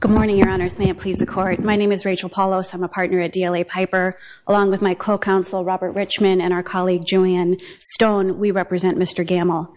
Good morning, your honors. May it please the court. My name is Rachel Paulos. I'm a partner at DLA Piper. Along with my co-counsel, Robert Richmond, and our colleague, Julian Stone, we represent Mr. Gammell.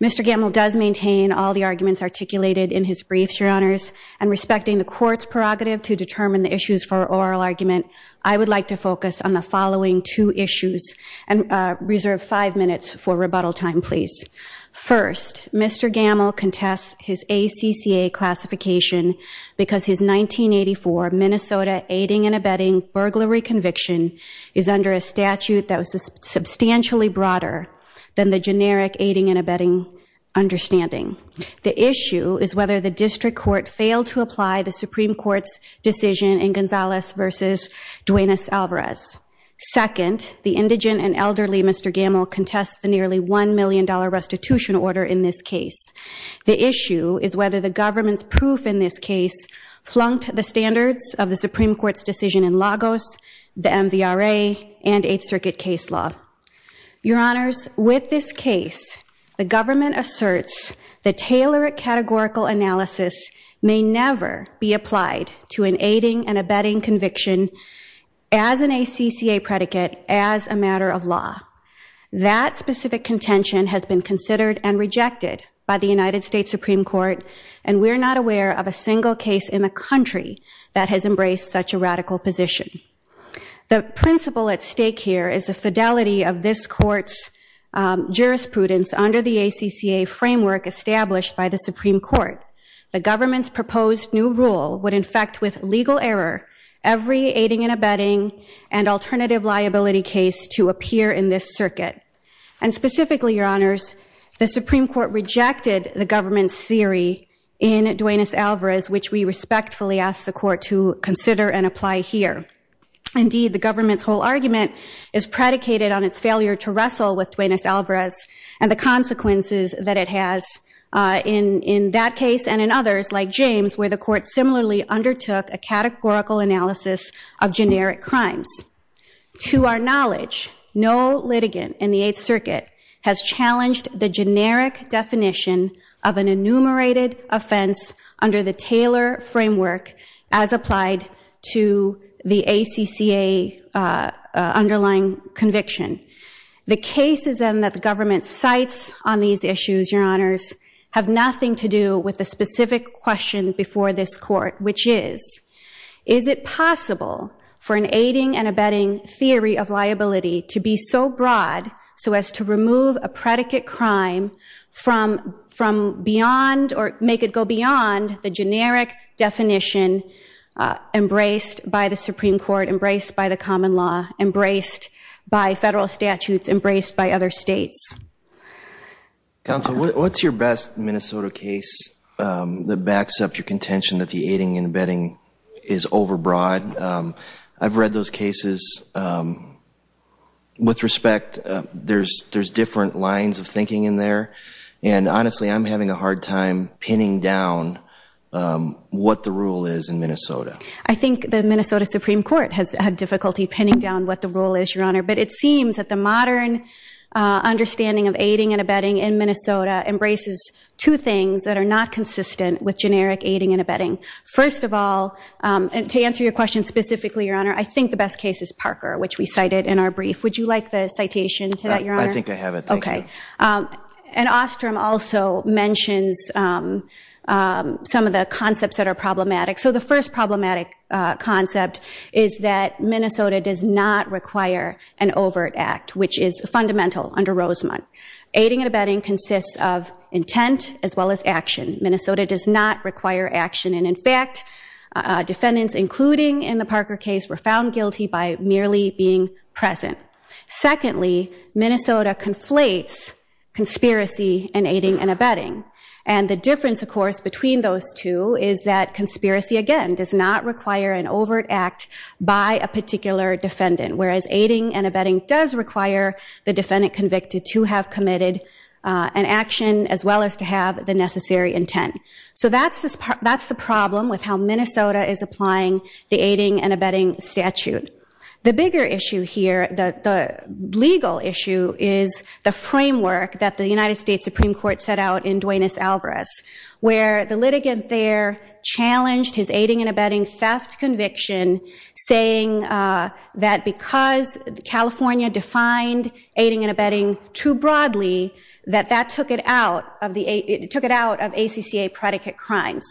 Mr. Gammell does maintain all the arguments articulated in his briefs, your honors. And respecting the court's prerogative to determine the issues for oral argument, I would like to focus on the following two issues. And reserve five minutes for rebuttal time, please. First, Mr. Gammell contests his ACCA classification because his 1984 Minnesota aiding and abetting burglary conviction is under a statute that was substantially broader than the generic aiding and abetting understanding. The issue is whether the district court failed to apply the Supreme Court's decision in Gonzalez versus Duenas-Alvarez. Second, the indigent and elderly Mr. Gammell contests the nearly $1 million restitution order in this case. The issue is whether the government's proof in this case flunked the standards of the Supreme Court's decision in Lagos, the MVRA, and Eighth Circuit case law. Your honors, with this case, the government asserts the tailored categorical analysis may never be applied to an aiding and abetting conviction as an ACCA predicate as a matter of law. That specific contention has been considered and rejected by the United States Supreme Court, and we're not aware of a single case in the country that has embraced such a radical position. The principle at stake here is the fidelity of this court's jurisprudence under the ACCA framework established by the Supreme Court. The government's proposed new rule would infect with legal error every aiding and abetting and alternative liability case to appear in this circuit. And specifically, your honors, the Supreme Court rejected the government's theory in Duenas-Alvarez, which we respectfully ask the court to consider and apply here. Indeed, the government's whole argument is predicated on its failure to wrestle with Duenas-Alvarez and the consequences that it has in that case and in others, like James, where the court similarly undertook a categorical analysis of generic crimes. To our knowledge, no litigant in the Eighth Circuit has challenged the generic definition of an enumerated offense under the Taylor framework as applied to the ACCA underlying conviction. The cases that the government cites on these issues, your honors, have nothing to do with the specific question before this court, which is, is it aiding and abetting theory of liability to be so broad so as to remove a predicate crime from beyond or make it go beyond the generic definition embraced by the Supreme Court, embraced by the common law, embraced by federal statutes, embraced by other states? Counsel, what's your best Minnesota case that backs up your contention that the aiding and abetting is overbroad? I've read those cases. With respect, there's different lines of thinking in there. And honestly, I'm having a hard time pinning down what the rule is in Minnesota. I think the Minnesota Supreme Court has had difficulty pinning down what the rule is, your honor. But it seems that the modern understanding of aiding and abetting in Minnesota embraces two things that are not consistent with generic aiding and abetting. First of all, and to answer your question specifically, your honor, I think the best case is Parker, which we cited in our brief. Would you like the citation to that, your honor? I think I have it. Thank you. And Ostrom also mentions some of the concepts that are problematic. So the first problematic concept is that Minnesota does not require an overt act, which is fundamental under Rosemont. Aiding and abetting consists of intent as well as action. Minnesota does not require action. And in fact, defendants, including in the Parker case, were found guilty by merely being present. Secondly, Minnesota conflates conspiracy and aiding and abetting. And the difference, of course, between those two is that conspiracy, again, does not require an overt act by a particular defendant. Whereas aiding and abetting does require the defendant convicted to have committed an action, as well as to have the necessary intent. So that's the problem with how Minnesota is applying the aiding and abetting statute. The bigger issue here, the legal issue, is the framework that the United States Supreme Court set out in Duenas-Alvarez, where the litigant there challenged his aiding and abetting theft conviction, saying that because California defined aiding and abetting too broadly, that that took it out of ACCA predicate crimes.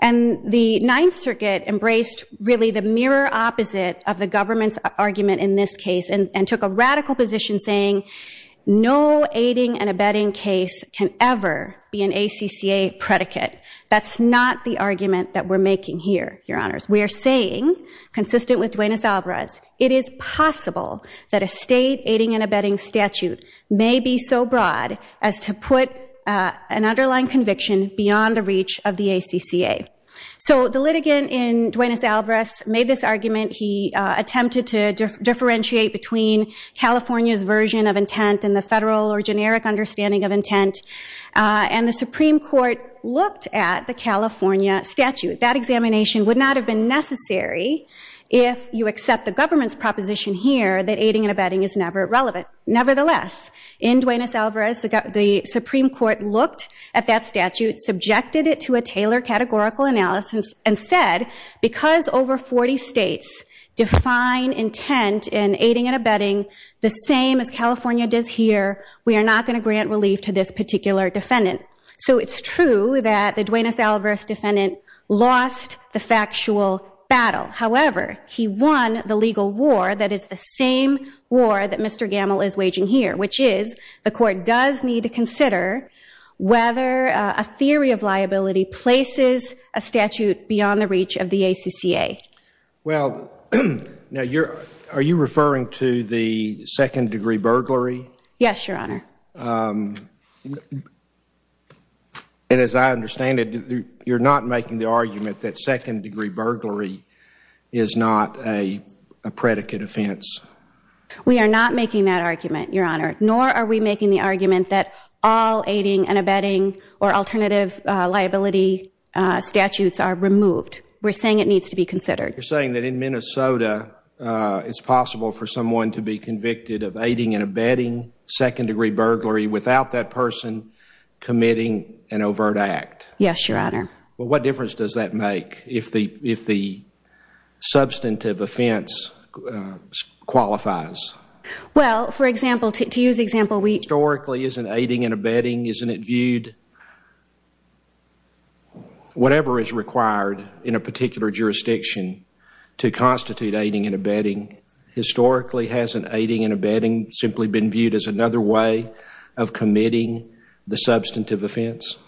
And the Ninth Circuit embraced, really, the mirror opposite of the government's argument in this case, and took a radical position saying, no aiding and abetting case can ever be an ACCA predicate. That's not the argument that we're making here, Your Honors. We are saying, consistent with Duenas-Alvarez, it is possible that a state aiding and abetting statute may be so broad as to put an underlying conviction beyond the reach of the ACCA. So the litigant in Duenas-Alvarez made this argument. He attempted to differentiate between California's version of intent and the federal or generic understanding of intent. And the Supreme Court looked at the California statute. That examination would not have been necessary if you accept the government's proposition here that aiding and abetting is never relevant. Nevertheless, in Duenas-Alvarez, the Supreme Court looked at that statute, subjected it to a Taylor categorical analysis, and said, because over 40 states define intent in aiding and abetting the same as California does here, we are not going to grant relief to this particular defendant. So it's true that the Duenas-Alvarez defendant lost the factual battle. However, he won the legal war that is the same war that Mr. Gamble is waging here, which is the court does need to consider whether a theory of liability places a statute beyond the reach of the ACCA. Well, are you referring to the second degree burglary? Yes, Your Honor. And as I understand it, you're not making the argument that second degree burglary is not a predicate offense. We are not making that argument, Your Honor. Nor are we making the argument that all aiding and abetting or alternative liability statutes are removed. We're saying it needs to be considered. You're saying that in Minnesota, it's possible for someone to be convicted of aiding and abetting second degree burglary without that person committing an overt act. Yes, Your Honor. Well, what difference does that make if the substantive offense qualifies? Well, for example, to use example, we Historically isn't aiding and abetting, isn't it viewed whatever is required in a particular jurisdiction to constitute aiding and abetting historically hasn't aiding and abetting simply been viewed as another way of committing the substantive offense?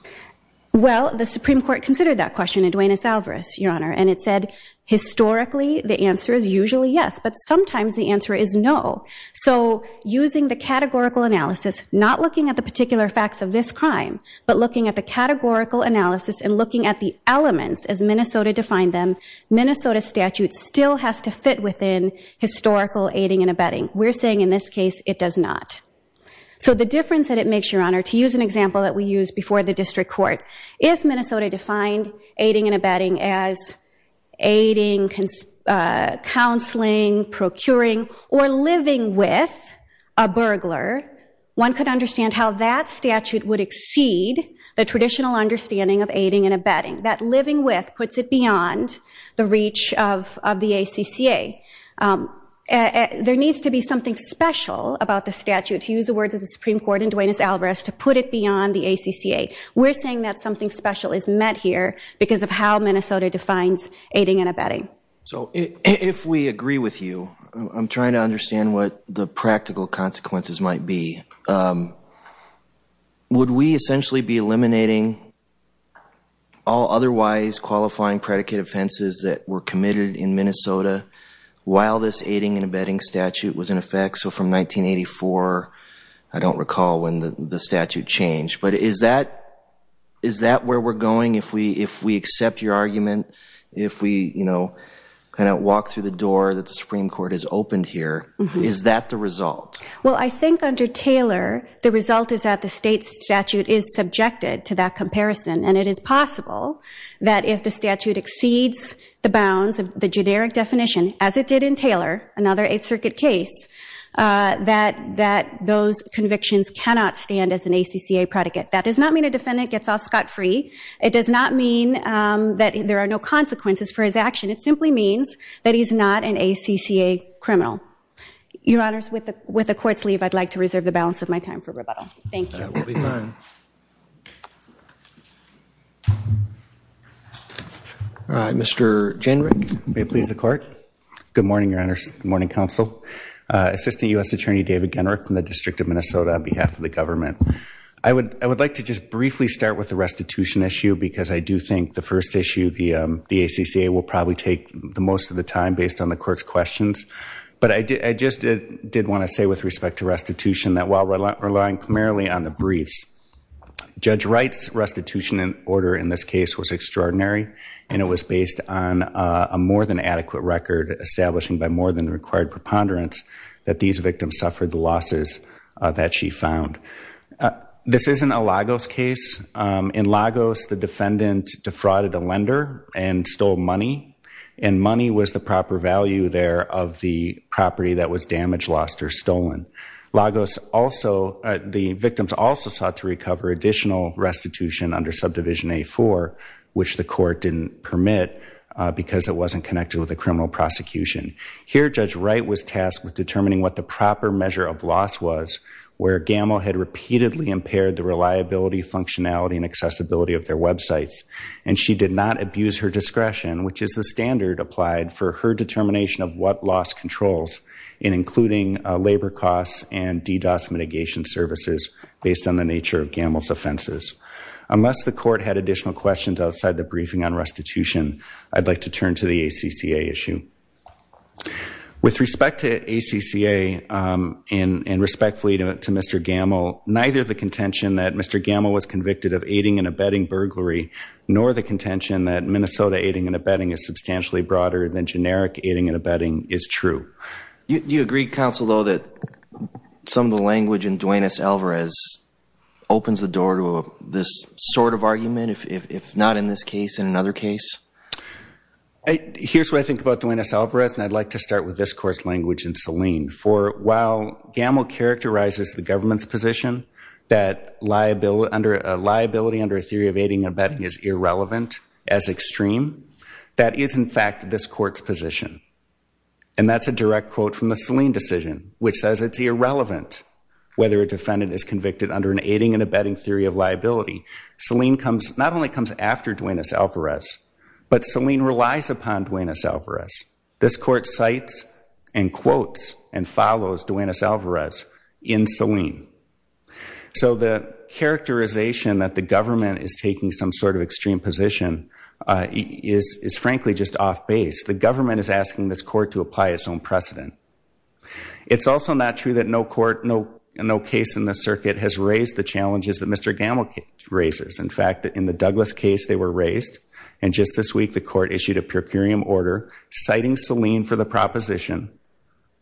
Well, the Supreme Court considered that question in Duenas-Alvarez, Your Honor. And it said historically, the answer is usually yes. But sometimes the answer is no. So using the categorical analysis, not looking at the particular facts of this crime, but looking at the categorical analysis and looking at the elements as Minnesota defined them, Minnesota statute still has to fit within historical aiding and abetting. We're saying in this case, it does not. So the difference that it makes, Your Honor, to use an example that we used before the district court, if Minnesota defined aiding and abetting as aiding, counseling, procuring, or living with a burglar, one could understand how that statute would exceed the traditional understanding of aiding and abetting. That living with puts it beyond the reach of the ACCA. There needs to be something special about the statute, to use the words of the Supreme Court in Duenas-Alvarez, to put it beyond the ACCA. We're saying that something special is met here because of how Minnesota defines aiding and abetting. So if we agree with you, I'm trying to understand what the practical consequences might be. So would we essentially be eliminating all otherwise qualifying predicate offenses that were committed in Minnesota while this aiding and abetting statute was in effect? So from 1984, I don't recall when the statute changed. But is that where we're going? If we accept your argument, if we walk through the door that the Supreme Court has opened here, is that the result? Well, I think under Taylor, the result is that the state statute is subjected to that comparison. And it is possible that if the statute exceeds the bounds of the generic definition, as it did in Taylor, another Eighth Circuit case, that those convictions cannot stand as an ACCA predicate. That does not mean a defendant gets off scot-free. It does not mean that there are no consequences for his action. It simply means that he's not an ACCA criminal. Your Honors, with the court's leave, I'd like to reserve the balance of my time for rebuttal. Thank you. That will be fine. Mr. Jenrick, may it please the court. Good morning, Your Honors. Good morning, counsel. Assistant US Attorney David Jenrick from the District of Minnesota on behalf of the government. I would like to just briefly start with the restitution issue, because I do think the first issue, the ACCA, will probably take the most of the time based on the court's questions. But I just did want to say, with respect to restitution, that while relying primarily on the briefs, Judge Wright's restitution order in this case was extraordinary. And it was based on a more than adequate record, establishing by more than required preponderance, that these victims suffered the losses that she found. This isn't a Lagos case. In Lagos, the defendant defrauded a lender and stole money. And money was the proper value there of the property that was damaged, lost, or stolen. Lagos also, the victims also sought to recover additional restitution under subdivision A-4, which the court didn't permit because it wasn't connected with the criminal prosecution. Here, Judge Wright was tasked with determining what the proper measure of loss was, where Gamow had repeatedly impaired the reliability, functionality, and accessibility of their websites. And she did not abuse her discretion, which is the standard applied for her determination of what loss controls, and including labor costs and DDoS mitigation services, based on the nature of Gamow's offenses. Unless the court had additional questions outside the briefing on restitution, I'd like to turn to the ACCA issue. With respect to ACCA, and respectfully to Mr. Gamow, neither the contention that Mr. Gamow was convicted of aiding and abetting burglary, nor the contention that Minnesota aiding and abetting is substantially broader than generic aiding and abetting is true. You agree, counsel, though, that some of the language in Duenas-Alvarez opens the door to this sort of argument, if not in this case, in another case? Here's what I think about Duenas-Alvarez, and I'd like to start with this court's language in Selene. For while Gamow characterizes the government's position that liability under a theory of aiding and abetting is irrelevant, as extreme, that is, in fact, this court's position. And that's a direct quote from the Selene decision, which says it's irrelevant whether a defendant is convicted under an aiding and abetting theory of liability. Selene not only comes after Duenas-Alvarez, but Selene relies upon Duenas-Alvarez. This court cites and quotes and follows Duenas-Alvarez in Selene. So the characterization that the government is taking some sort of extreme position is, frankly, just off base. The government is asking this court to apply its own precedent. It's also not true that no case in this circuit has raised the challenges that Mr. Gamow raises. In fact, in the Douglas case, they were raised, and just this week, the court issued a per curiam order citing Selene for the proposition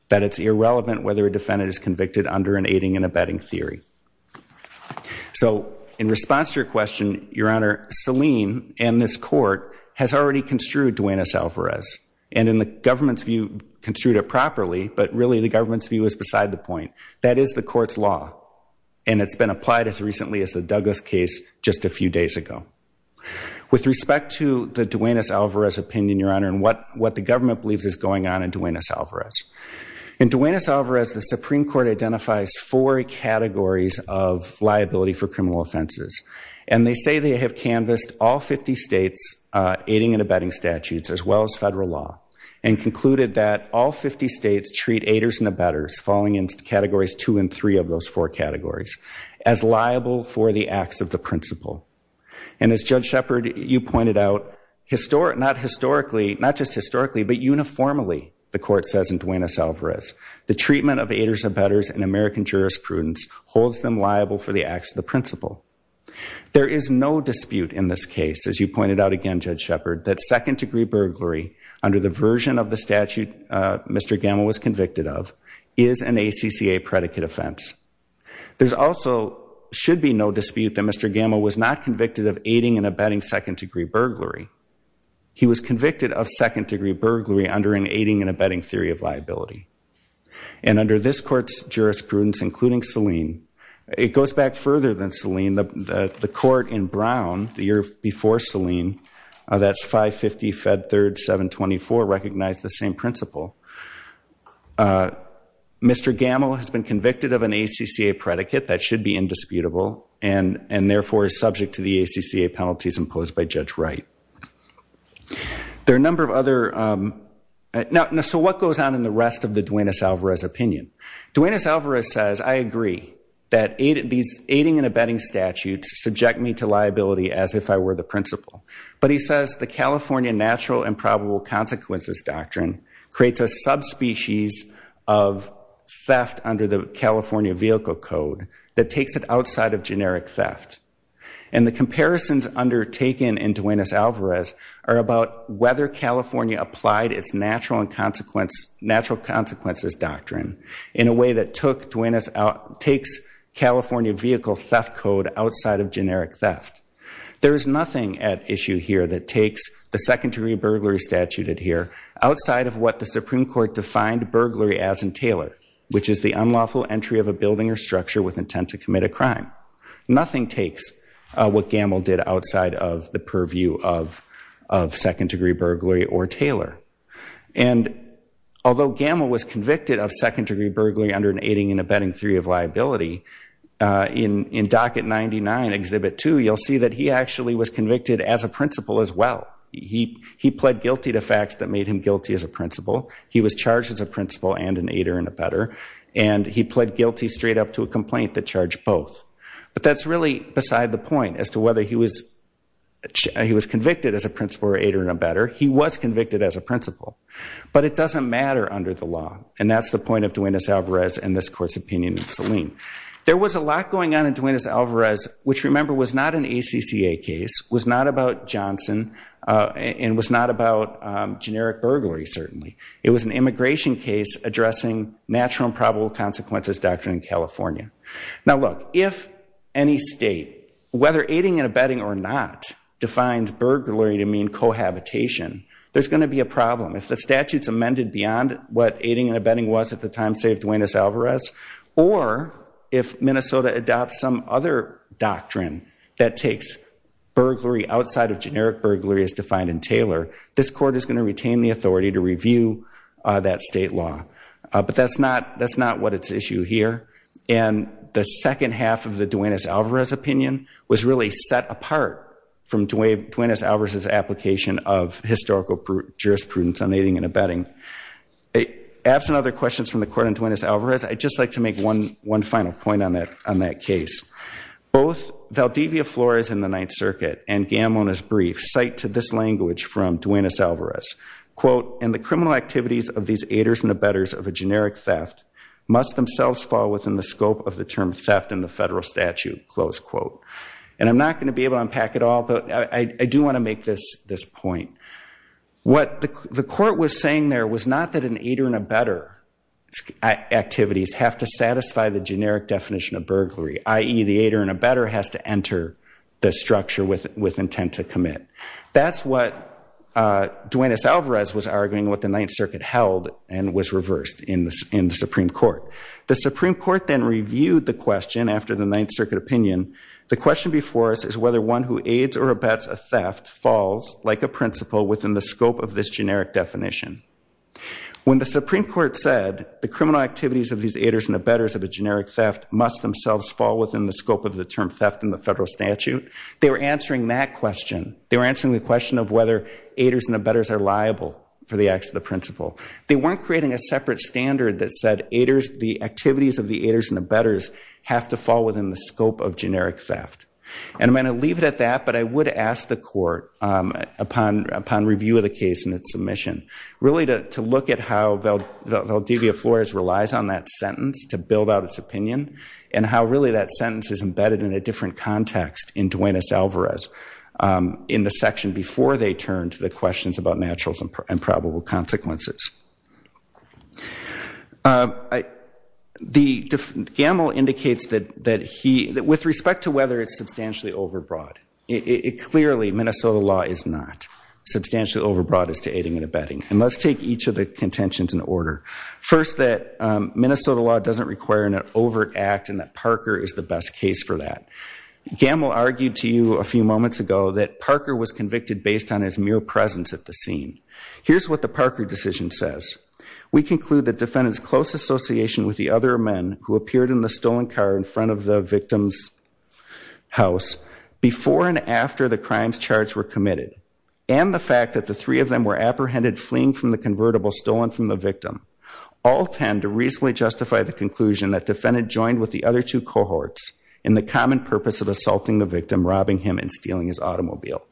that it's irrelevant whether a defendant is convicted under an aiding and abetting theory. So in response to your question, Your Honor, Selene and this court has already construed Duenas-Alvarez. And in the government's view, construed it properly, but really, the government's view is beside the point. That is the court's law. And it's been applied as recently as the Douglas case just a few days ago. With respect to the Duenas-Alvarez opinion, Your Honor, and what the government believes is going on in Duenas-Alvarez. In Duenas-Alvarez, the Supreme Court identifies four categories of liability for criminal offenses. And they say they have canvassed all 50 states, aiding and abetting statutes, as well as federal law, and concluded that all 50 states treat aiders and abetters, falling into categories two and three of those four categories, as liable for the acts of the principal. And as Judge Shepard, you pointed out, not just historically, but uniformly, the court says in Duenas-Alvarez, the treatment of aiders, abetters, and American jurisprudence holds them liable for the acts of the principal. There is no dispute in this case, as you pointed out again, Judge Shepard, that second degree burglary, under the version of the statute Mr. Gamow was convicted of, is an ACCA predicate offense. There also should be no dispute that Mr. Gamow was not convicted of aiding and abetting second degree burglary. He was convicted of second degree burglary under an aiding and abetting theory of liability. And under this court's jurisprudence, including Selene, it goes back further than Selene. The court in Brown, the year before Selene, that's 550 Fed Third 724, recognized the same principle. Mr. Gamow has been convicted of an ACCA predicate that should be indisputable, and therefore is subject to the ACCA penalties imposed by Judge Wright. There are a number of other, so what goes on in the rest of the Duenas-Alvarez opinion? Duenas-Alvarez says, I agree that these aiding and abetting statutes subject me to liability as if I were the principal. But he says the California natural and probable consequences doctrine creates a subspecies of theft under the California Vehicle Code that takes it outside of generic theft. And the comparisons undertaken in Duenas-Alvarez are about whether California applied its natural consequences doctrine in a way that takes California Vehicle Theft Code outside of generic theft. There is nothing at issue here that takes the second degree burglary statute here outside of what the Supreme Court defined burglary as in Taylor, which is the unlawful entry of a building or structure with intent to commit a crime. Nothing takes what Gamow did outside of the purview of second degree burglary or Taylor. And although Gamow was convicted of second degree burglary under an aiding and abetting theory of liability, in Docket 99, Exhibit 2, you'll see that he actually was convicted as a principal as well. He pled guilty to facts that made him guilty as a principal. He was charged as a principal and an aider and abetter. And he pled guilty straight up to a complaint that charged both. But that's really beside the point as to whether he was convicted as a principal or aider and abetter. He was convicted as a principal. But it doesn't matter under the law. And that's the point of Duenas-Alvarez and this court's opinion in Selim. There was a lot going on in Duenas-Alvarez, which remember was not an ACCA case, was not about Johnson, and was not about generic burglary certainly. It was an immigration case addressing natural and probable consequences doctrine in California. Now look, if any state, whether aiding and abetting or not, defines burglary to mean cohabitation, there's going to be a problem. If the statute's amended beyond what aiding and abetting was at the time, say, of Duenas-Alvarez, or if Minnesota adopts some other doctrine that takes burglary outside of generic burglary as defined in Taylor, this court is going to retain the authority to review that state law. But that's not what it's issue here. And the second half of the Duenas-Alvarez opinion was really set apart from Duenas-Alvarez's application of historical jurisprudence on aiding and abetting. Absent other questions from the court on Duenas-Alvarez, I'd just like to make one final point on that case. Both Valdivia Flores in the Ninth Circuit and Gamon as brief cite to this language from Duenas-Alvarez. Quote, in the criminal activities of these aiders and abetters of a generic theft must themselves fall within the scope of the term theft in the federal statute, close quote. And I'm not gonna be able to unpack it all, but I do wanna make this point. What the court was saying there was not that an aider and abetter activities have to satisfy the generic definition of burglary, i.e. the aider and abetter has to enter the structure with intent to commit. That's what Duenas-Alvarez was arguing what the Ninth Circuit held and was reversed in the Supreme Court. The Supreme Court then reviewed the question after the Ninth Circuit opinion. The question before us is whether one who aids or abets a theft falls like a principle within the scope of this generic definition. When the Supreme Court said the criminal activities of these aiders and abetters of a generic theft must themselves fall within the scope of the term theft in the federal statute, they were answering that question. They were answering the question of whether aiders and abetters are liable for the acts of the principle. They weren't creating a separate standard that said the activities of the aiders and abetters have to fall within the scope of generic theft. And I'm gonna leave it at that, but I would ask the court upon review of the case and its submission really to look at how Valdivia Flores relies on that sentence to build out its opinion and how really that sentence is embedded in a different context in Duenas-Alvarez in the section before they turn to the questions about naturals and probable consequences. Gamble indicates that with respect to whether it's substantially overbroad, it clearly, Minnesota law is not substantially overbroad as to aiding and abetting. And let's take each of the contentions in order. First, that Minnesota law doesn't require an overt act and that Parker is the best case for that. Gamble argued to you a few moments ago that Parker was convicted based on his mere presence at the scene. Here's what the Parker decision says. We conclude that defendant's close association with the other men who appeared in the stolen car in front of the victim's house before and after the crimes charged were committed and the fact that the three of them were apprehended fleeing from the convertible stolen from the victim all tend to reasonably justify the conclusion that defendant joined with the other two cohorts in the common purpose of assaulting the victim, robbing him and stealing his automobile.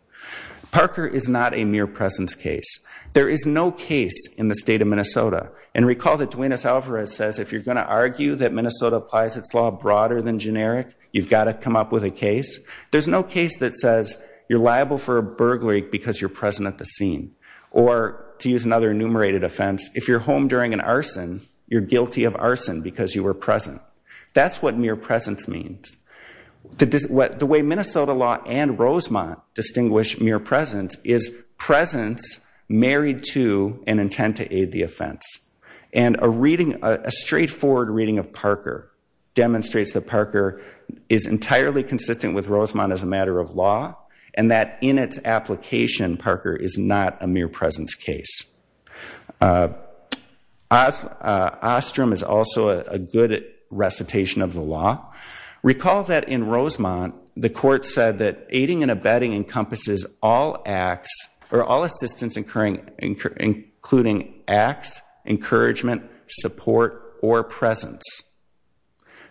Parker is not a mere presence case. There is no case in the state of Minnesota and recall that Duenas Alvarez says if you're gonna argue that Minnesota applies its law broader than generic, you've gotta come up with a case. There's no case that says you're liable for a burglary because you're present at the scene or to use another enumerated offense, if you're home during an arson, you're guilty of arson because you were present. That's what mere presence means. The way Minnesota law and Rosemont distinguish mere presence is presence married to an intent to aid the offense and a reading, a straightforward reading of Parker demonstrates that Parker is entirely consistent with Rosemont as a matter of law and that in its application, Parker is not a mere presence case. Ostrom is also a good recitation of the law. Recall that in Rosemont, the court said that aiding and abetting encompasses all acts or all assistance including acts, encouragement, support or presence.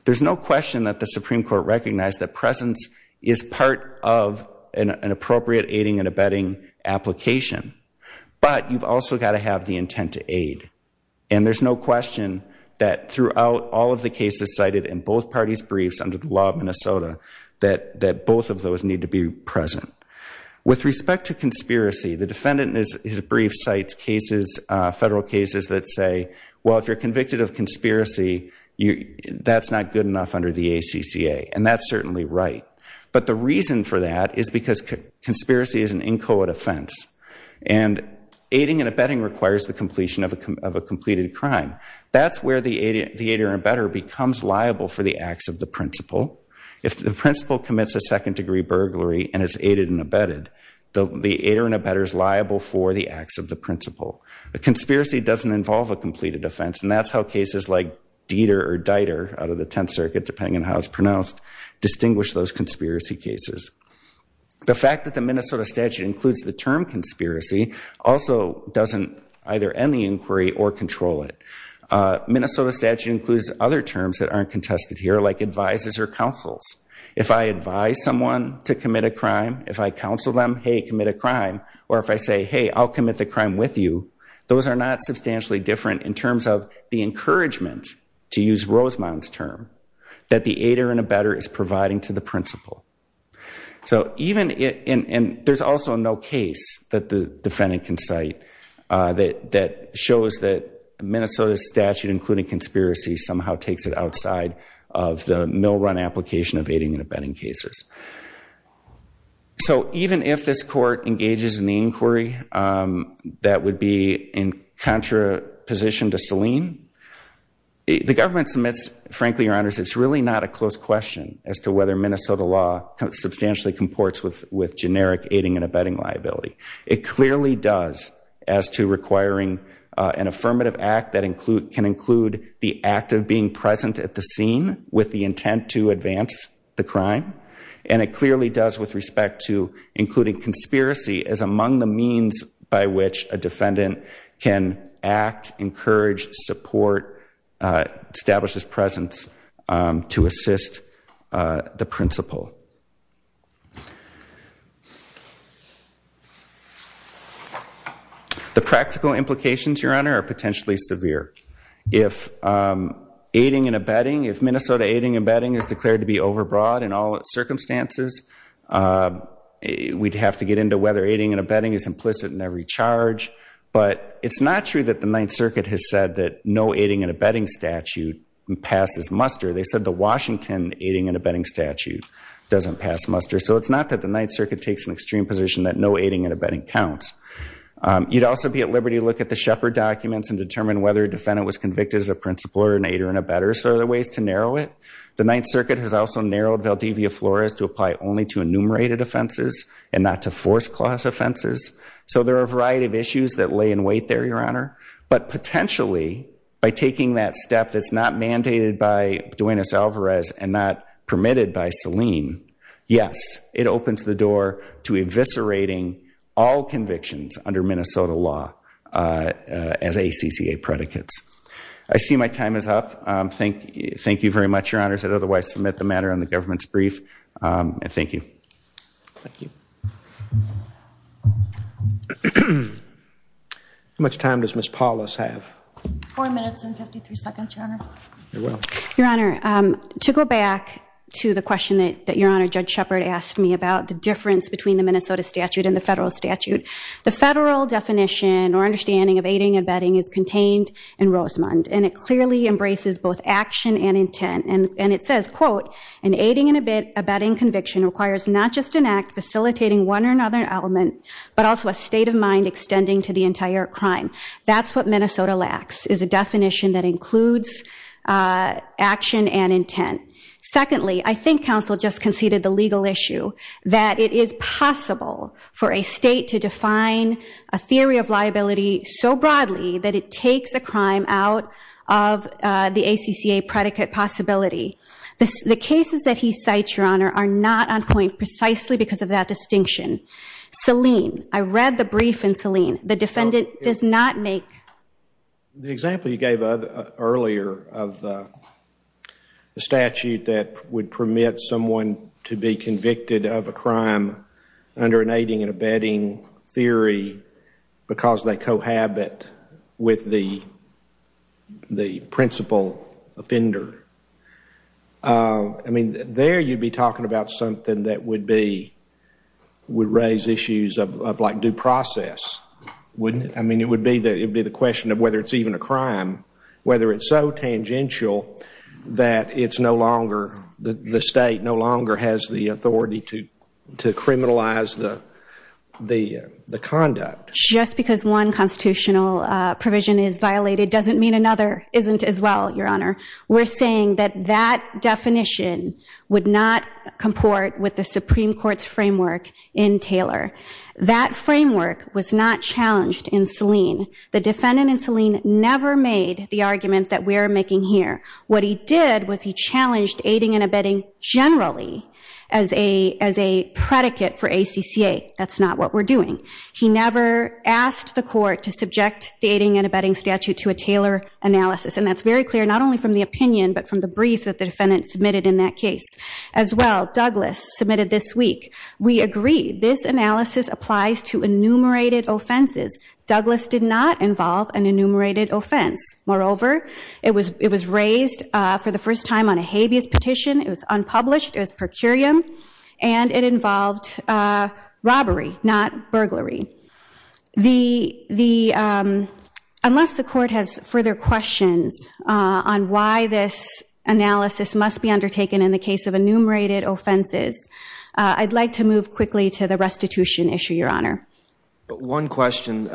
There's no question that the Supreme Court recognized that presence is part of an appropriate aiding and abetting application but you've also gotta have the intent to aid and there's no question that throughout all of the cases cited in both parties' briefs under the law of Minnesota that both of those need to be present. With respect to conspiracy, the defendant in his brief cites cases, federal cases that say, well if you're convicted of conspiracy, that's not good enough under the ACCA and that's certainly right but the reason for that is because conspiracy is an inchoate offense and aiding and abetting requires the completion of a completed crime. That's where the aider and abetter becomes liable for the acts of the principal. If the principal commits a second degree burglary and is aided and abetted, the aider and abetter is liable for the acts of the principal. A conspiracy doesn't involve a completed offense and that's how cases like Dieter or Dieter out of the 10th Circuit depending on how it's pronounced distinguish those conspiracy cases. The fact that the Minnesota statute includes the term conspiracy also doesn't either end the inquiry or control it. Minnesota statute includes other terms that aren't contested here like advises or counsels. If I advise someone to commit a crime, if I counsel them, hey, commit a crime or if I say, hey, I'll commit the crime with you, those are not substantially different in terms of the encouragement, to use Rosemond's term, that the aider and abetter is providing to the principal. So even, and there's also no case that the defendant can cite that shows that Minnesota statute including conspiracy somehow takes it outside of the mill run application of aiding and abetting cases. So even if this court engages in the inquiry that would be in contraposition to Selene, the government submits, frankly, your honors, it's really not a close question as to whether Minnesota law substantially comports with generic aiding and abetting liability. It clearly does as to requiring an affirmative act that can include the act of being present at the scene with the intent to advance the crime. And it clearly does with respect to including conspiracy as among the means by which a defendant can act, encourage, support, establish his presence to assist the principal. The practical implications, your honor, are potentially severe. If aiding and abetting, if Minnesota aiding and abetting is declared to be overbroad in all circumstances, we'd have to get into whether aiding and abetting is implicit in every charge. But it's not true that the Ninth Circuit has said that no aiding and abetting statute passes muster. They said the Washington aiding and abetting statute doesn't pass muster. So it's not that the Ninth Circuit takes an extreme position that no aiding and abetting counts. You'd also be at liberty to look at the Shepard documents and determine whether a defendant was convicted as a principal or an aider and abetter. So there are ways to narrow it. The Ninth Circuit has also narrowed Valdivia Flores to apply only to enumerated offenses and not to force clause offenses. So there are a variety of issues that lay in wait there, your honor. But potentially, by taking that step that's not mandated by Duenas-Alvarez and not permitted by Selene, yes, it opens the door to eviscerating all convictions under Minnesota law as ACCA predicates. I see my time is up. Thank you very much, your honors. I'd otherwise submit the matter on the government's brief. And thank you. Thank you. How much time does Ms. Paulus have? Four minutes and 53 seconds, your honor. You're welcome. Your honor, to go back to the question that your honor, Judge Shepard asked me about the difference between the Minnesota statute and the federal statute. The federal definition or understanding of aiding and abetting is contained in Rosamond. And it clearly embraces both action and intent. And it says, quote, an aiding and abetting conviction requires not just an act facilitating one or another element, but also a state of mind extending to the entire crime. That's what Minnesota lacks is a definition that includes action and intent. Secondly, I think counsel just conceded the legal issue that it is possible for a state to define a theory of liability so broadly that it takes a crime out of the ACCA predicate possibility. The cases that he cites, your honor, are not on point precisely because of that distinction. Selene, I read the brief in Selene. The defendant does not make. The example you gave earlier of the statute that would permit someone to be convicted of a crime under an aiding and abetting theory because they cohabit with the principal offender. I mean, there you'd be talking about something that would raise issues of like due process, wouldn't it? I mean, it would be the question of whether it's even a crime. Whether it's so tangential that the state no longer has the authority to criminalize the conduct. Just because one constitutional provision is violated doesn't mean another isn't as well, your honor. We're saying that that definition would not comport with the Supreme Court's framework in Taylor. That framework was not challenged in Selene. The defendant in Selene never made the argument that we're making here. What he did was he challenged aiding and abetting generally as a predicate for ACCA. That's not what we're doing. He never asked the court to subject the aiding and abetting statute to a Taylor analysis. And that's very clear, not only from the opinion, but from the brief that the defendant submitted in that case. As well, Douglas submitted this week. We agree. This analysis applies to enumerated offenses. Douglas did not involve an enumerated offense. Moreover, it was raised for the first time on a habeas petition. It was unpublished. It was per curiam. And it involved robbery, not burglary. Unless the court has further questions on why this analysis must be undertaken in the case of enumerated offenses, I'd like to move quickly to the restitution issue, Your Honor. One question.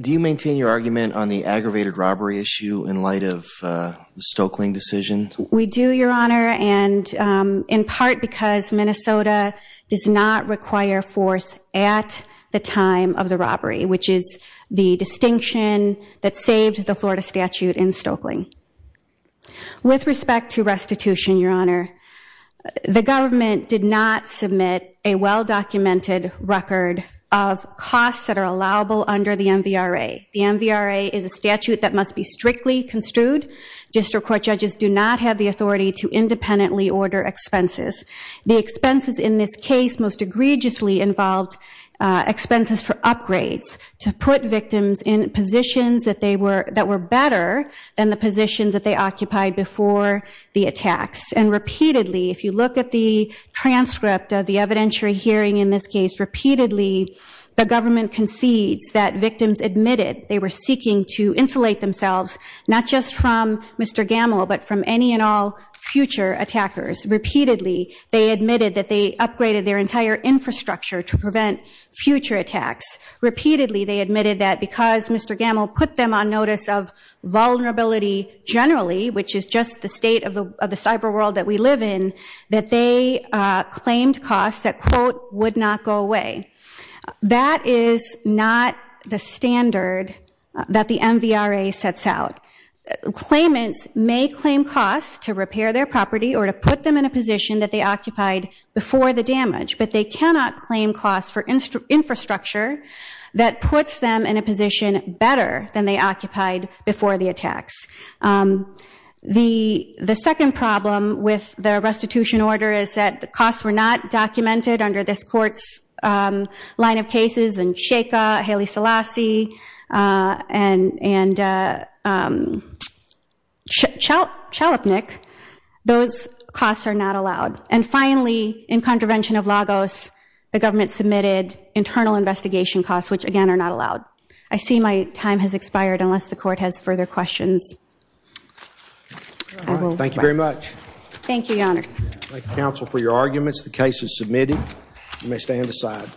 Do you maintain your argument on the aggravated robbery issue in light of the Stokeling decision? We do, Your Honor. And in part because Minnesota does not require force at the time of the robbery, which is the distinction that saved the Florida statute in Stokeling. With respect to restitution, Your Honor, the government did not submit a well-documented record of costs that are allowable under the MVRA. The MVRA is a statute that must be strictly construed. District court judges do not have the authority to independently order expenses. The expenses in this case most egregiously involved expenses for upgrades to put victims in positions that were better than the positions that they occupied before the attacks. And repeatedly, if you look at the transcript of the evidentiary hearing in this case, repeatedly, the government concedes that victims admitted they were seeking to insulate themselves not just from Mr. Gamble, but from any and all future attackers. Repeatedly, they admitted that they upgraded their entire infrastructure to prevent future attacks. Repeatedly, they admitted that because Mr. Gamble put them on notice of vulnerability generally, which is just the state of the cyber world that we live in, that they claimed costs that, quote, would not go away. That is not the standard that the MVRA sets out. Claimants may claim costs to repair their property or to put them in a position that they occupied before the damage, but they cannot claim costs for infrastructure that puts them in a position better than they occupied before the attacks. The second problem with the restitution order is that the costs were not documented under this court's line of cases and Sheikha, Haile Selassie, and Chalupnik. Those costs are not allowed. And finally, in contravention of Lagos, the government submitted internal investigation costs, which again, are not allowed. I see my time has expired unless the court has further questions. Thank you very much. Thank you, Your Honor. Thank you, counsel, for your arguments. The case is submitted. You may stand aside.